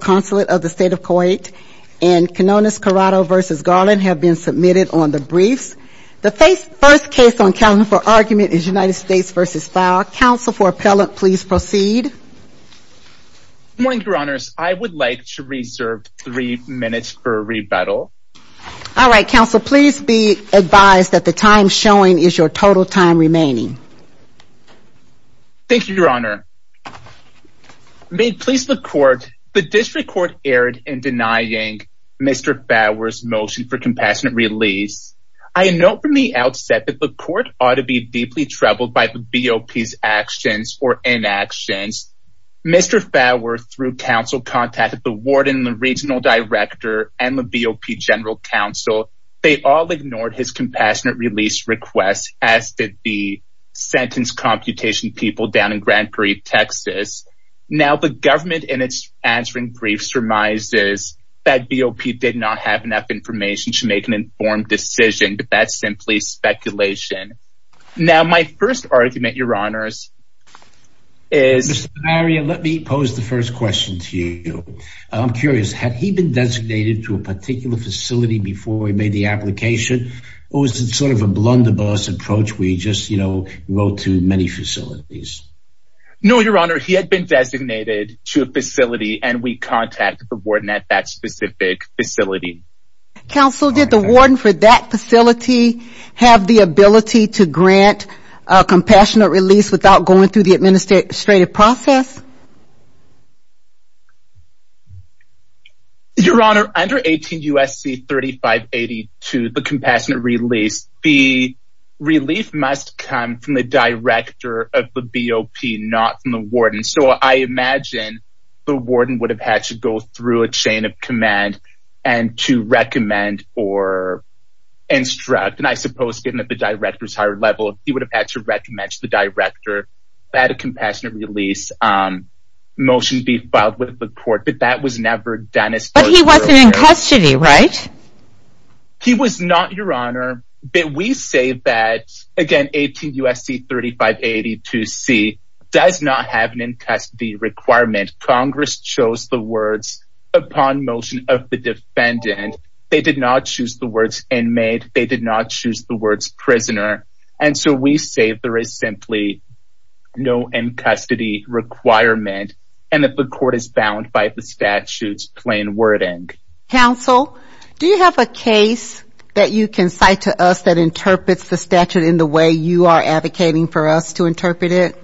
Consulate of the State of Kuwait, and Canonis Corrado v. Garland have been submitted on the briefs. The first case on calendar for argument is United States v. Fower. Counsel for appellant, please proceed. Good morning, Your Honors. I would like to reserve three minutes for rebuttal. All right. Counsel, please be advised that the time showing is your total time remaining. Thank you, Your Honor. May it please the court, the district court erred in denying Mr. Fower's motion for compassionate release. I note from the outset that the court ought to be deeply troubled by the BOP's actions or inactions. Mr. Fower, through counsel, contacted the warden, the regional director, and the BOP general counsel. They all ignored his compassionate release request, as did the sentence computation people down in Grand Prix, Texas. Now, the government, in its answering briefs, surmises that BOP did not have enough information to make an informed decision. That's simply speculation. Now, my first argument, Your Honors, is... Mr. Barria, let me pose the first question to you. I'm curious. Had he been designated to a particular facility before he made the application, or was it sort of a blunderbuss approach where he just, you know, wrote to many facilities? No, Your Honor. He had been designated to a facility, and we contacted the warden at that specific facility. Counsel, did the warden for that facility have the ability to grant a compassionate release without going through the administrative process? Your Honor, under 18 U.S.C. 3582, the compassionate release, the relief must come from the director of the BOP, not from the warden. So, I imagine the warden would have had to go through a chain of command and to recommend or instruct. And I suppose, given that the director's higher level, he would have had to recommend to the director that a compassionate release motion be filed with the court. But that was never done as far as we're aware. But he wasn't in custody, right? He was not, Your Honor. But we say that, again, 18 U.S.C. 3582C does not have an in-custody requirement. Congress chose the words upon motion of the defendant. They did not choose the words inmate. They did not choose the words prisoner. And so, we say there is simply no in-custody requirement, and that the court is bound by the statute's plain wording. Counsel, do you have a case that you can cite to us that interprets the statute in the way you are advocating for us to interpret it?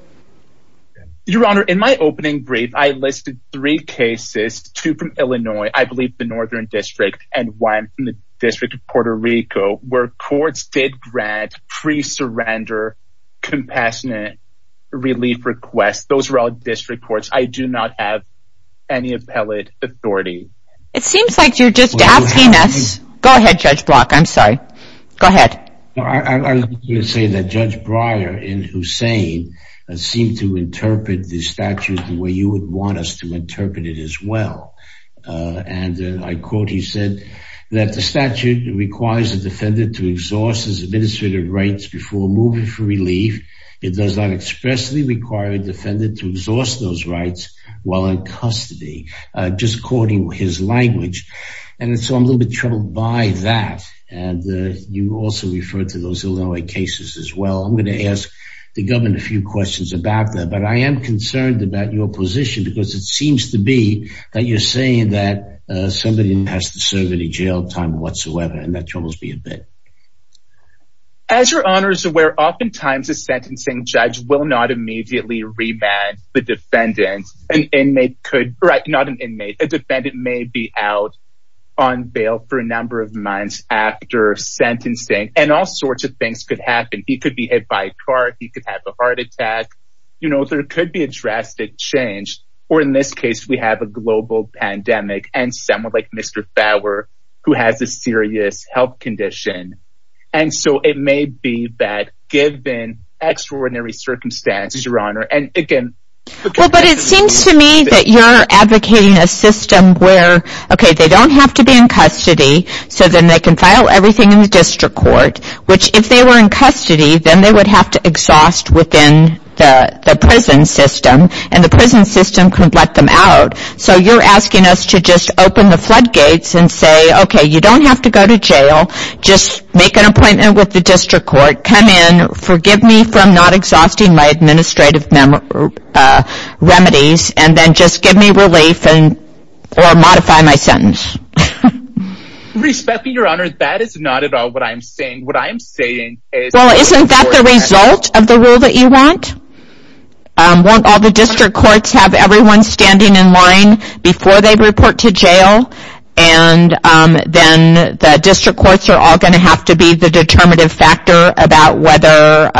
Your Honor, in my opening brief, I listed three cases, two from Illinois, I believe the Northern District, and one from the District of Puerto Rico, where courts did grant pre-surrender compassionate relief requests. Those were all district courts. I do not have any appellate authority. It seems like you're just asking us. Go ahead, Judge Block. I'm sorry. Go ahead. I was going to say that Judge Breyer in Hussain seemed to interpret the statute the way you would want us to interpret it as well. And I quote, he said that the statute requires the defendant to exhaust his administrative rights before moving for relief. It does not expressly require a defendant to exhaust those rights while in custody, just quoting his language. And so, I'm a little bit troubled by that. And you also referred to those Illinois cases as well. I'm going to ask the government a few questions about that. But I am concerned about your position because it seems to be that you're saying that somebody has to serve any jail time whatsoever, and that troubles me a bit. As Your Honor is aware, oftentimes a sentencing judge will not immediately remand the defendant. Right, not an inmate. A defendant may be out on bail for a number of months after sentencing. And all sorts of things could happen. He could be hit by a car. He could have a heart attack. You know, there could be a drastic change. Or in this case, we have a global pandemic and someone like Mr. Fowler who has a serious health condition. And so, it may be that given extraordinary circumstances, Your Honor. Well, but it seems to me that you're advocating a system where, okay, they don't have to be in custody so then they can file everything in the district court. Which, if they were in custody, then they would have to exhaust within the prison system. And the prison system could let them out. So, you're asking us to just open the floodgates and say, okay, you don't have to go to jail. Just make an appointment with the district court. Come in. Forgive me for not exhausting my administrative remedies. And then just give me relief or modify my sentence. Respectfully, Your Honor, that is not at all what I am saying. What I am saying is... Well, isn't that the result of the rule that you want? Won't all the district courts have everyone standing in line before they report to jail? And then the district courts are all going to have to be the determinative factor about whether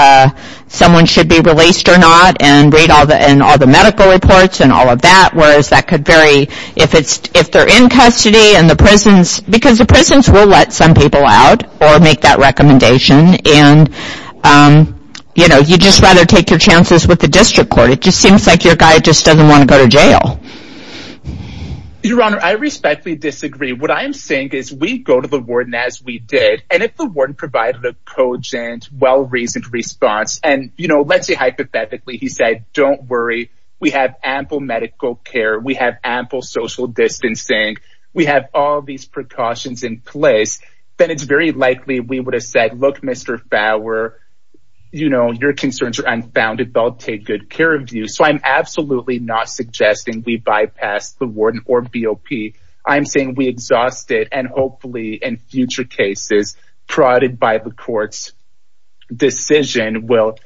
someone should be released or not. And read all the medical reports and all of that. Whereas that could vary if they're in custody and the prisons... Because the prisons will let some people out or make that recommendation. And, you know, you'd just rather take your chances with the district court. It just seems like your guy just doesn't want to go to jail. Your Honor, I respectfully disagree. What I am saying is we go to the warden as we did. And if the warden provided a cogent, well-reasoned response... And, you know, let's say hypothetically he said, don't worry. We have ample medical care. We have ample social distancing. We have all these precautions in place. Then it's very likely we would have said, look, Mr. Fauer, you know, your concerns are unfounded. They'll take good care of you. So I'm absolutely not suggesting we bypass the warden or BOP. I'm saying we exhaust it. And hopefully in future cases, prodded by the court's decision, we'll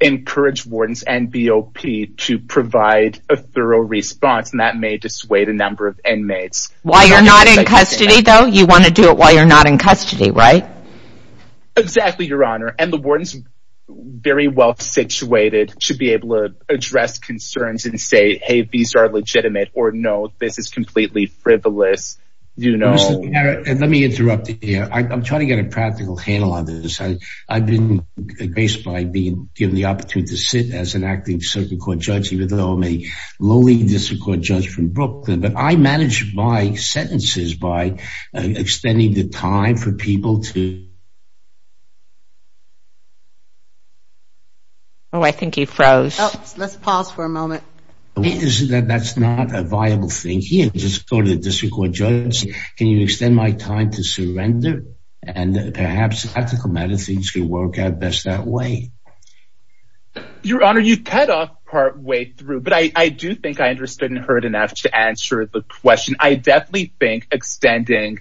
encourage wardens and BOP to provide a thorough response. And that may dissuade a number of inmates. While you're not in custody, though? You want to do it while you're not in custody, right? Exactly, Your Honor. And the warden's very well-situated to be able to address concerns and say, hey, these are legitimate. Or, no, this is completely frivolous, you know. Let me interrupt you here. I'm trying to get a practical handle on this. I've been graced by being given the opportunity to sit as an active circuit court judge, even though I'm a lowly district court judge from Brooklyn. But I manage my sentences by extending the time for people to... Oh, I think he froze. Let's pause for a moment. That's not a viable thing here. Just go to the district court judge. Can you extend my time to surrender? And perhaps ethical matters could work out best that way. Your Honor, you cut off partway through. But I do think I understood and heard enough to answer the question. I definitely think extending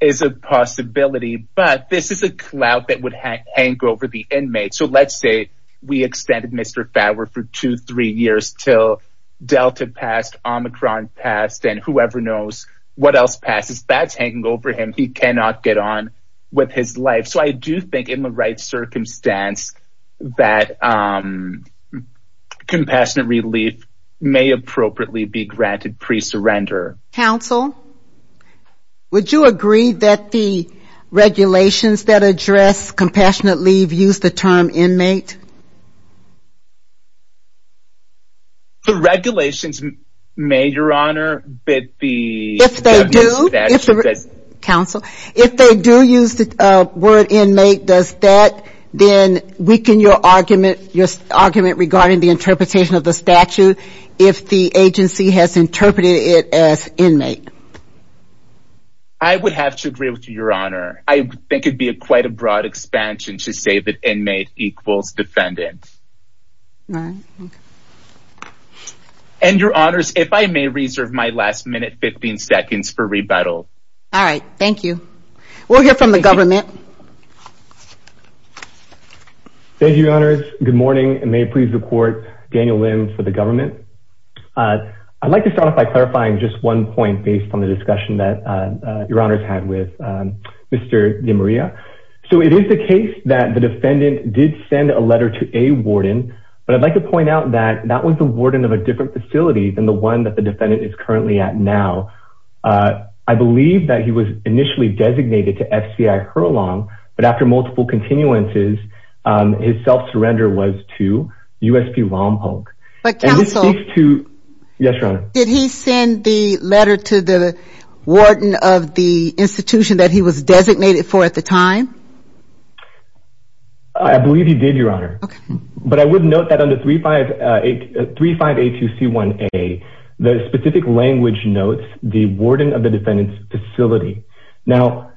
is a possibility. But this is a clout that would hang over the inmate. So let's say we extended Mr. Fadwar for two, three years till Delta passed, Omicron passed, and whoever knows what else passes. That's hanging over him. He cannot get on with his life. So I do think in the right circumstance that compassionate relief may appropriately be granted pre-surrender. Counsel, would you agree that the regulations that address compassionate leave use the term inmate? The regulations may, Your Honor, but the... Counsel, if they do use the word inmate, does that then weaken your argument regarding the interpretation of the statute if the agency has interpreted it as inmate? I would have to agree with you, Your Honor. I think it would be quite a broad expansion to say that inmate equals defendant. Right, okay. And, Your Honors, if I may reserve my last minute 15 seconds for rebuttal. All right. Thank you. We'll hear from the government. Thank you, Your Honors. Good morning. May it please the Court, Daniel Lin for the government. I'd like to start off by clarifying just one point based on the discussion that Your Honors had with Mr. DeMaria. So it is the case that the defendant did send a letter to a warden, but I'd like to point out that that was the warden of a different facility than the one that the defendant is currently at now. I believe that he was initially designated to FCI Hurlong, but after multiple continuances, his self-surrender was to USP Lompoc. But, Counsel... And this speaks to... Yes, Your Honor. Did he send the letter to the warden of the institution that he was designated for at the time? I believe he did, Your Honor. Okay. But I would note that under 3582C1A, the specific language notes the warden of the defendant's facility. Now,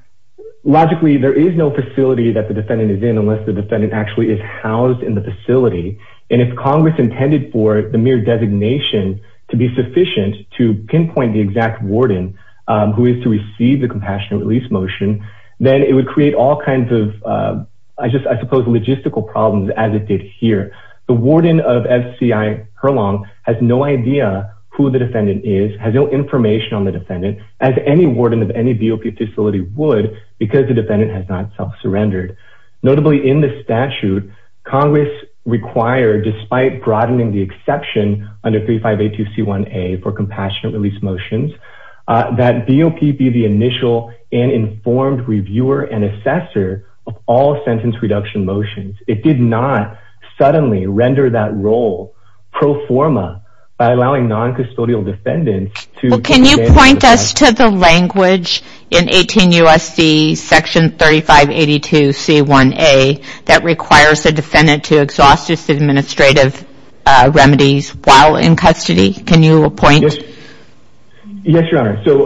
logically, there is no facility that the defendant is in unless the defendant actually is housed in the facility. And if Congress intended for the mere designation to be sufficient to pinpoint the exact warden who is to receive the compassionate release motion, then it would create all kinds of, I suppose, logistical problems as it did here. The warden of FCI Hurlong has no idea who the defendant is, has no information on the defendant, as any warden of any DOP facility would, because the defendant has not self-surrendered. Notably, in the statute, Congress required, despite broadening the exception under 3582C1A for compassionate release motions, that DOP be the initial and informed reviewer and assessor of all sentence reduction motions. It did not suddenly render that role pro forma by allowing non-custodial defendants to... Can you point us to the language in 18 U.S.C. section 3582C1A that requires the defendant to exhaust his administrative remedies while in custody? Can you point? Yes, Your Honor. So,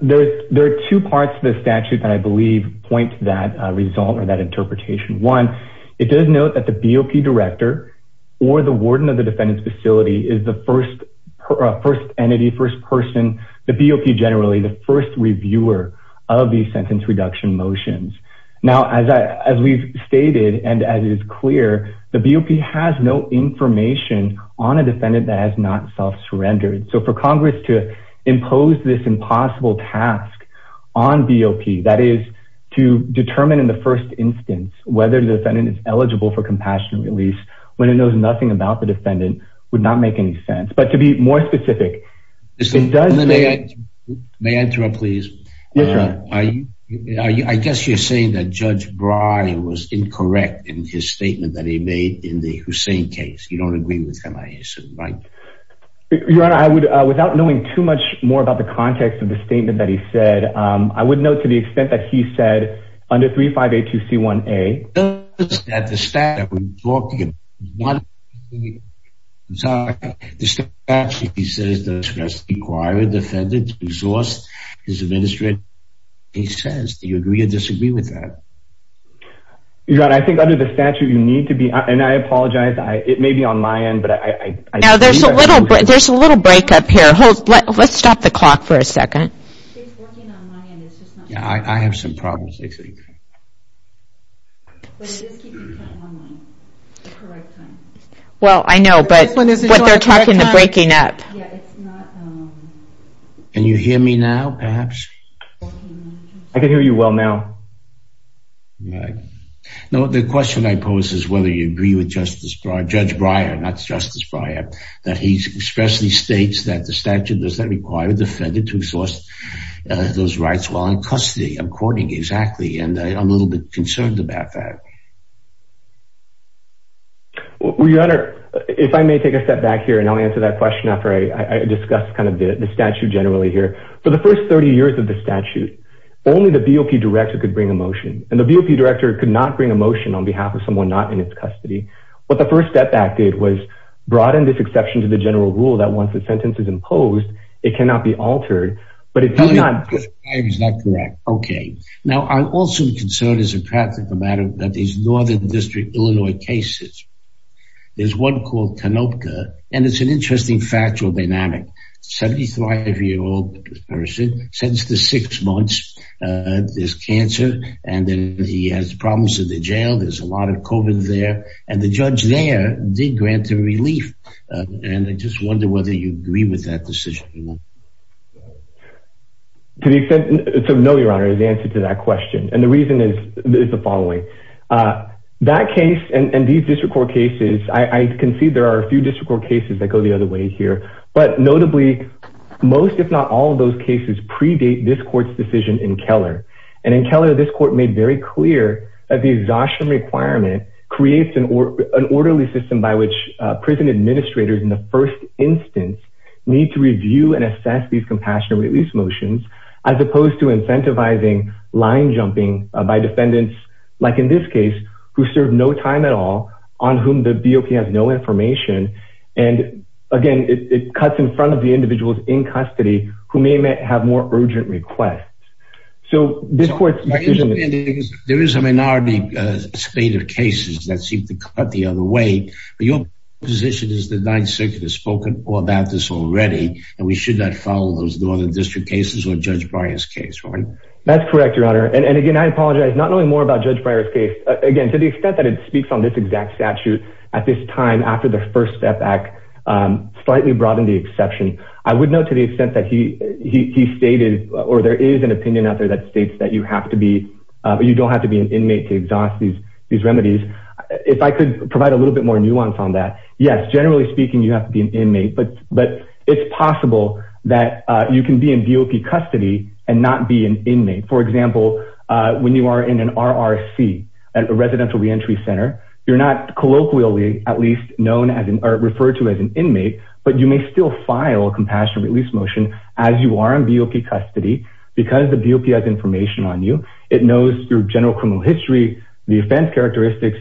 there are two parts to the statute that I believe point to that result or that interpretation. One, it does note that the BOP director or the warden of the defendant's facility is the first entity, first person, the BOP generally, the first reviewer of these sentence reduction motions. Now, as we've stated and as it is clear, the BOP has no information on a defendant that has not self-surrendered. So, for Congress to impose this impossible task on BOP, that is, to determine in the first instance whether the defendant is eligible for compassionate release when it knows nothing about the defendant, would not make any sense. But to be more specific, it does... May I interrupt, please? Yes, Your Honor. I guess you're saying that Judge Brawley was incorrect in his statement that he made in the Hussein case. You don't agree with him, I assume, right? Your Honor, I would... Without knowing too much more about the context of the statement that he said, I would note to the extent that he said, under 3582C1A... The statute, he says, does not require a defendant to exhaust his administrative... He says. Do you agree or disagree with that? Your Honor, I think under the statute, you need to be... And I apologize, it may be on my end, but I... Now, there's a little break up here. Let's stop the clock for a second. It's working on my end, it's just not... I have some problems. But it is keeping time online. The correct time. Well, I know, but what they're talking about is breaking up. Yeah, it's not... Can you hear me now, perhaps? I can hear you well now. Right. Now, the question I pose is whether you agree with Justice Breyer... Judge Breyer, not Justice Breyer, that he expressly states that the statute does not require a defendant to exhaust those rights while in custody. I'm quoting exactly, and I'm a little bit concerned about that. Well, Your Honor, if I may take a step back here, and I'll answer that question after I discuss kind of the statute generally here. For the first 30 years of the statute, only the BOP director could bring a motion. And the BOP director could not bring a motion on behalf of someone not in its custody. What the First Step Act did was broaden this exception to the general rule that once a sentence is imposed, it cannot be altered. But it did not... Justice Breyer is not correct. Okay. Now, I'm also concerned as a practical matter about these Northern District, Illinois cases. There's one called Tanopka, and it's an interesting factual dynamic. A 75-year-old person, since the six months, there's cancer, and then he has problems in the jail. There's a lot of COVID there. And the judge there did grant a relief. And I just wonder whether you agree with that decision. To the extent... So, no, Your Honor, is the answer to that question. And the reason is the following. That case and these district court cases, I can see there are a few district court cases that go the other way here. But notably, most, if not all, of those cases predate this court's decision in Keller. And in Keller, this court made very clear that the exhaustion requirement creates an orderly system by which prison administrators, in the first instance, need to review and assess these compassionate release motions. As opposed to incentivizing line jumping by defendants, like in this case, who serve no time at all, on whom the DOP has no information. And, again, it cuts in front of the individuals in custody who may have more urgent requests. So, this court's decision... There is a minority state of cases that seem to cut the other way. But your position is the Ninth Circuit has spoken all about this already. And we should not follow those Northern District cases or Judge Breyer's case, right? That's correct, Your Honor. And, again, I apologize. Not knowing more about Judge Breyer's case, again, to the extent that it speaks on this exact statute, at this time, after the First Step Act, slightly broadened the exception. I would note, to the extent that he stated, or there is an opinion out there that states that you have to be... You don't have to be an inmate to exhaust these remedies. If I could provide a little bit more nuance on that. Yes, generally speaking, you have to be an inmate. But it's possible that you can be in DOP custody and not be an inmate. For example, when you are in an RRC, a Residential Reentry Center, you're not colloquially, at least, referred to as an inmate. But you may still file a compassionate release motion as you are in DOP custody because the DOP has information on you. It knows your general criminal history, the offense characteristics,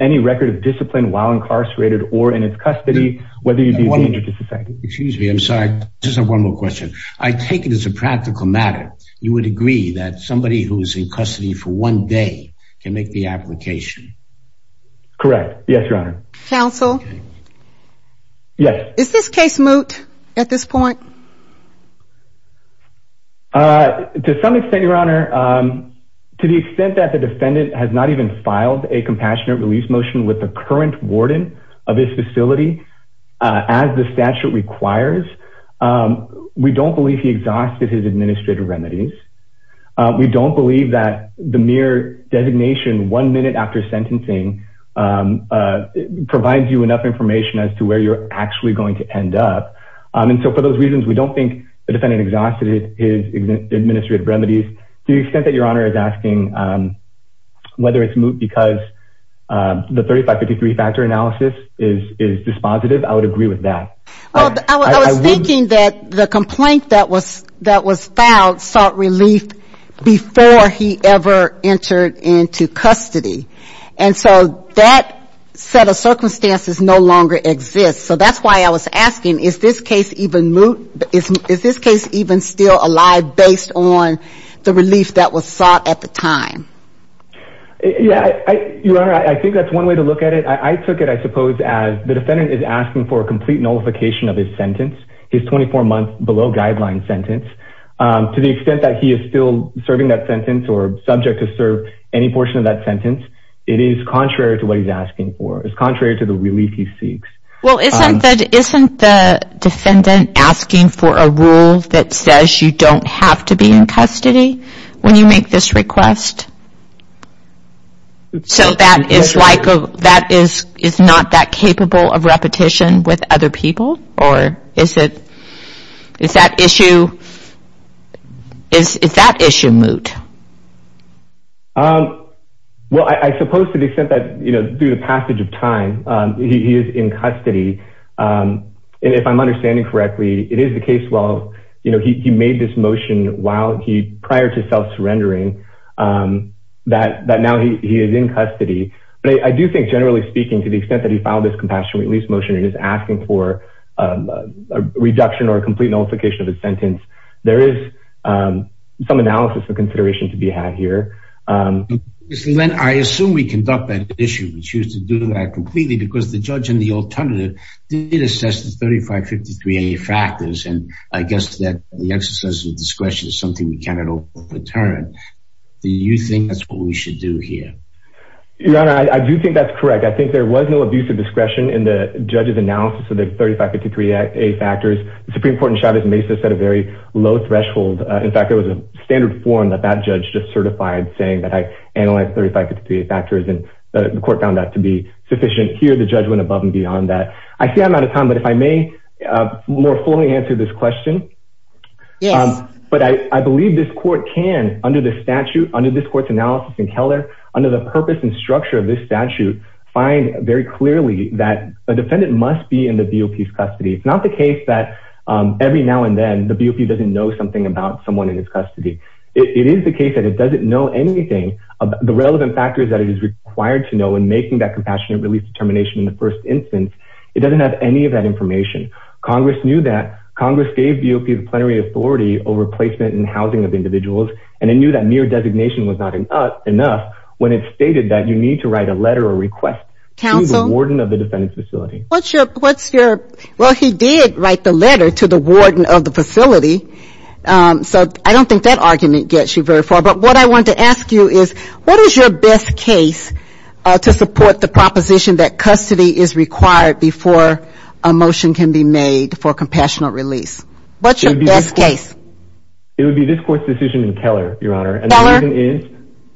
any record of discipline while incarcerated or in its custody, whether you're detained or disaffected. Excuse me. I'm sorry. Just one more question. I take it as a practical matter. You would agree that somebody who is in custody for one day can make the application? Correct. Yes, Your Honor. Counsel? Yes. Is this case moot at this point? To some extent, Your Honor. To the extent that the defendant has not even filed a compassionate release motion with the current warden of his facility, as the statute requires, we don't believe he exhausted his administrative remedies. We don't believe that the mere designation one minute after sentencing provides you enough information as to where you're actually going to end up. And so for those reasons, we don't think the defendant exhausted his administrative remedies. To the extent that Your Honor is asking whether it's moot because the 3553 factor analysis is dispositive, I would agree with that. I was thinking that the complaint that was filed sought relief before he ever entered into custody. And so that set of circumstances no longer exists. So that's why I was asking, is this case even moot? Is this case even still alive based on the relief that was sought at the time? Your Honor, I think that's one way to look at it. I took it, I suppose, as the defendant is asking for a complete nullification of his sentence, his 24-month below guideline sentence. To the extent that he is still serving that sentence or subject to serve any portion of that sentence, it is contrary to what he's asking for. It's contrary to the relief he seeks. Well, isn't the defendant asking for a rule that says you don't have to be in custody when you make this request? So that is not that capable of repetition with other people? Or is that issue moot? Well, I suppose to the extent that, you know, through the passage of time, he is in custody. And if I'm understanding correctly, it is the case, well, you know, he made this motion while he prior to self-surrendering that now he is in custody. But I do think generally speaking, to the extent that he filed this compassionate release motion and is asking for a reduction or a complete nullification of his sentence. There is some analysis and consideration to be had here. Mr. Len, I assume we conduct that issue and choose to do that completely because the judge in the alternative did assess the 3553A factors. And I guess that the exercise of discretion is something we cannot overturn. Do you think that's what we should do here? Your Honor, I do think that's correct. I think there was no abuse of discretion in the judge's analysis of the 3553A factors. The Supreme Court in Chavez Mesa set a very low threshold. In fact, there was a standard form that that judge just certified saying that I analyzed 3553A factors and the court found that to be sufficient. Here, the judge went above and beyond that. I see I'm out of time, but if I may more fully answer this question. Yes. But I believe this court can, under the statute, under this court's analysis in Keller, under the purpose and structure of this statute, find very clearly that a defendant must be in the DOP's custody. It's not the case that every now and then the DOP doesn't know something about someone in his custody. It is the case that it doesn't know anything about the relevant factors that it is required to know in making that compassionate release determination in the first instance. It doesn't have any of that information. Congress knew that. Congress gave DOP the plenary authority over placement and housing of individuals, and it knew that mere designation was not enough when it stated that you need to write a letter or request to the warden of the defendant's facility. Well, he did write the letter to the warden of the facility, so I don't think that argument gets you very far. But what I wanted to ask you is what is your best case to support the proposition that custody is required before a motion can be made for a compassionate release? What's your best case? It would be this court's decision in Keller, Your Honor. Keller?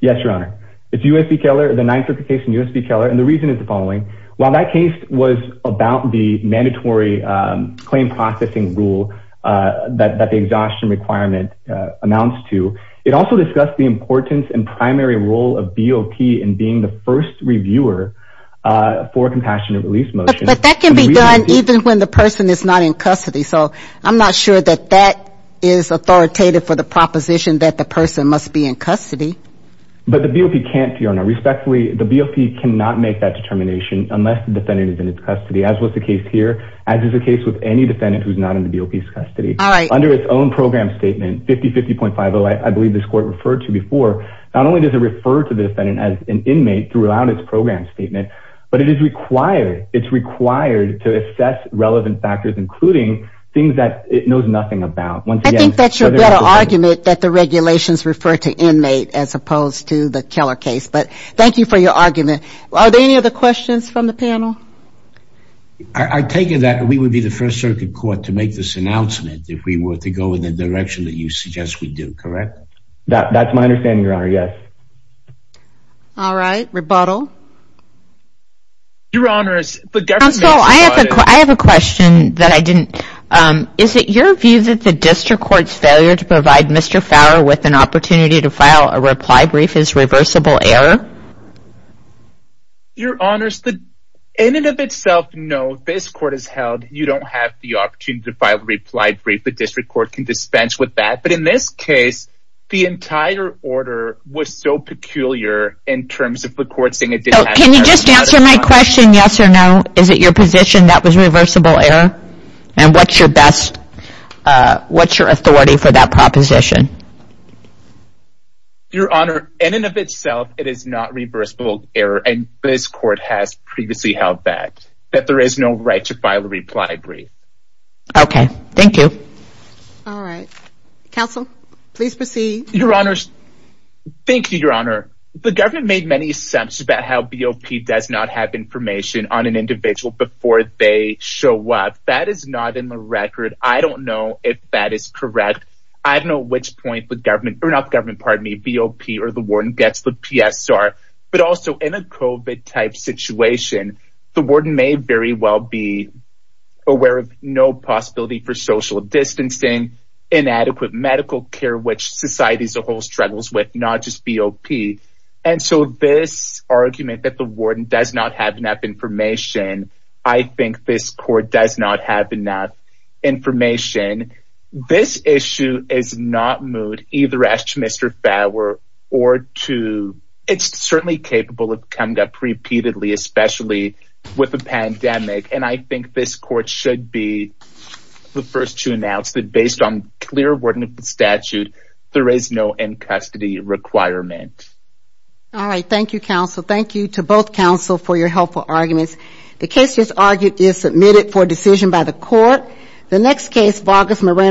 Yes, Your Honor. It's U.S.C. Keller, the 953 case in U.S.C. Keller, and the reason is the following. While that case was about the mandatory claim processing rule that the exhaustion requirement amounts to, it also discussed the importance and primary role of BOP in being the first reviewer for a compassionate release motion. But that can be done even when the person is not in custody, so I'm not sure that that is authoritative for the proposition that the person must be in custody. But the BOP can't, Your Honor. Respectfully, the BOP cannot make that determination unless the defendant is in its custody, as was the case here, as is the case with any defendant who is not in the BOP's custody. All right. Under its own program statement, 5050.50, I believe this court referred to before, not only does it refer to the defendant as an inmate throughout its program statement, but it is required, it's required to assess relevant factors, including things that it knows nothing about. I think that's your better argument that the regulations refer to inmate as opposed to the Keller case, but thank you for your argument. Are there any other questions from the panel? I take it that we would be the first circuit court to make this announcement if we were to go in the direction that you suggest we do, correct? That's my understanding, Your Honor, yes. All right. Rebuttal. Your Honor. Counsel, I have a question that I didn't. Is it your view that the district court's failure to provide Mr. Fowler with an opportunity to file a reply brief is reversible error? Your Honor, in and of itself, no. This court has held you don't have the opportunity to file a reply brief. I don't think the district court can dispense with that, but in this case, the entire order was so peculiar in terms of the court saying it didn't. Can you just answer my question, yes or no? Is it your position that was reversible error? And what's your best, what's your authority for that proposition? Your Honor, in and of itself, it is not reversible error, and this court has previously held that, that there is no right to file a reply brief. Okay. Thank you. All right. Counsel, please proceed. Your Honor, thank you, Your Honor. The government made many assumptions about how BOP does not have information on an individual before they show up. That is not in the record. I don't know if that is correct. I don't know at which point the government, or not the government, pardon me, BOP or the warden gets the PSR, but also in a COVID-type situation, the warden may very well be aware of no possibility for social distancing, inadequate medical care, which society as a whole struggles with, not just BOP. And so this argument that the warden does not have enough information, I think this court does not have enough information. This issue is not moved either as to Mr. Fauer or to, it's certainly capable of coming up repeatedly, especially with a pandemic. And I think this court should be the first to announce that based on clear wording of the statute, there is no in-custody requirement. All right. Thank you, counsel. Thank you to both counsel for your helpful arguments. The case just argued is submitted for decision by the court. The next case, Vargas Moreno.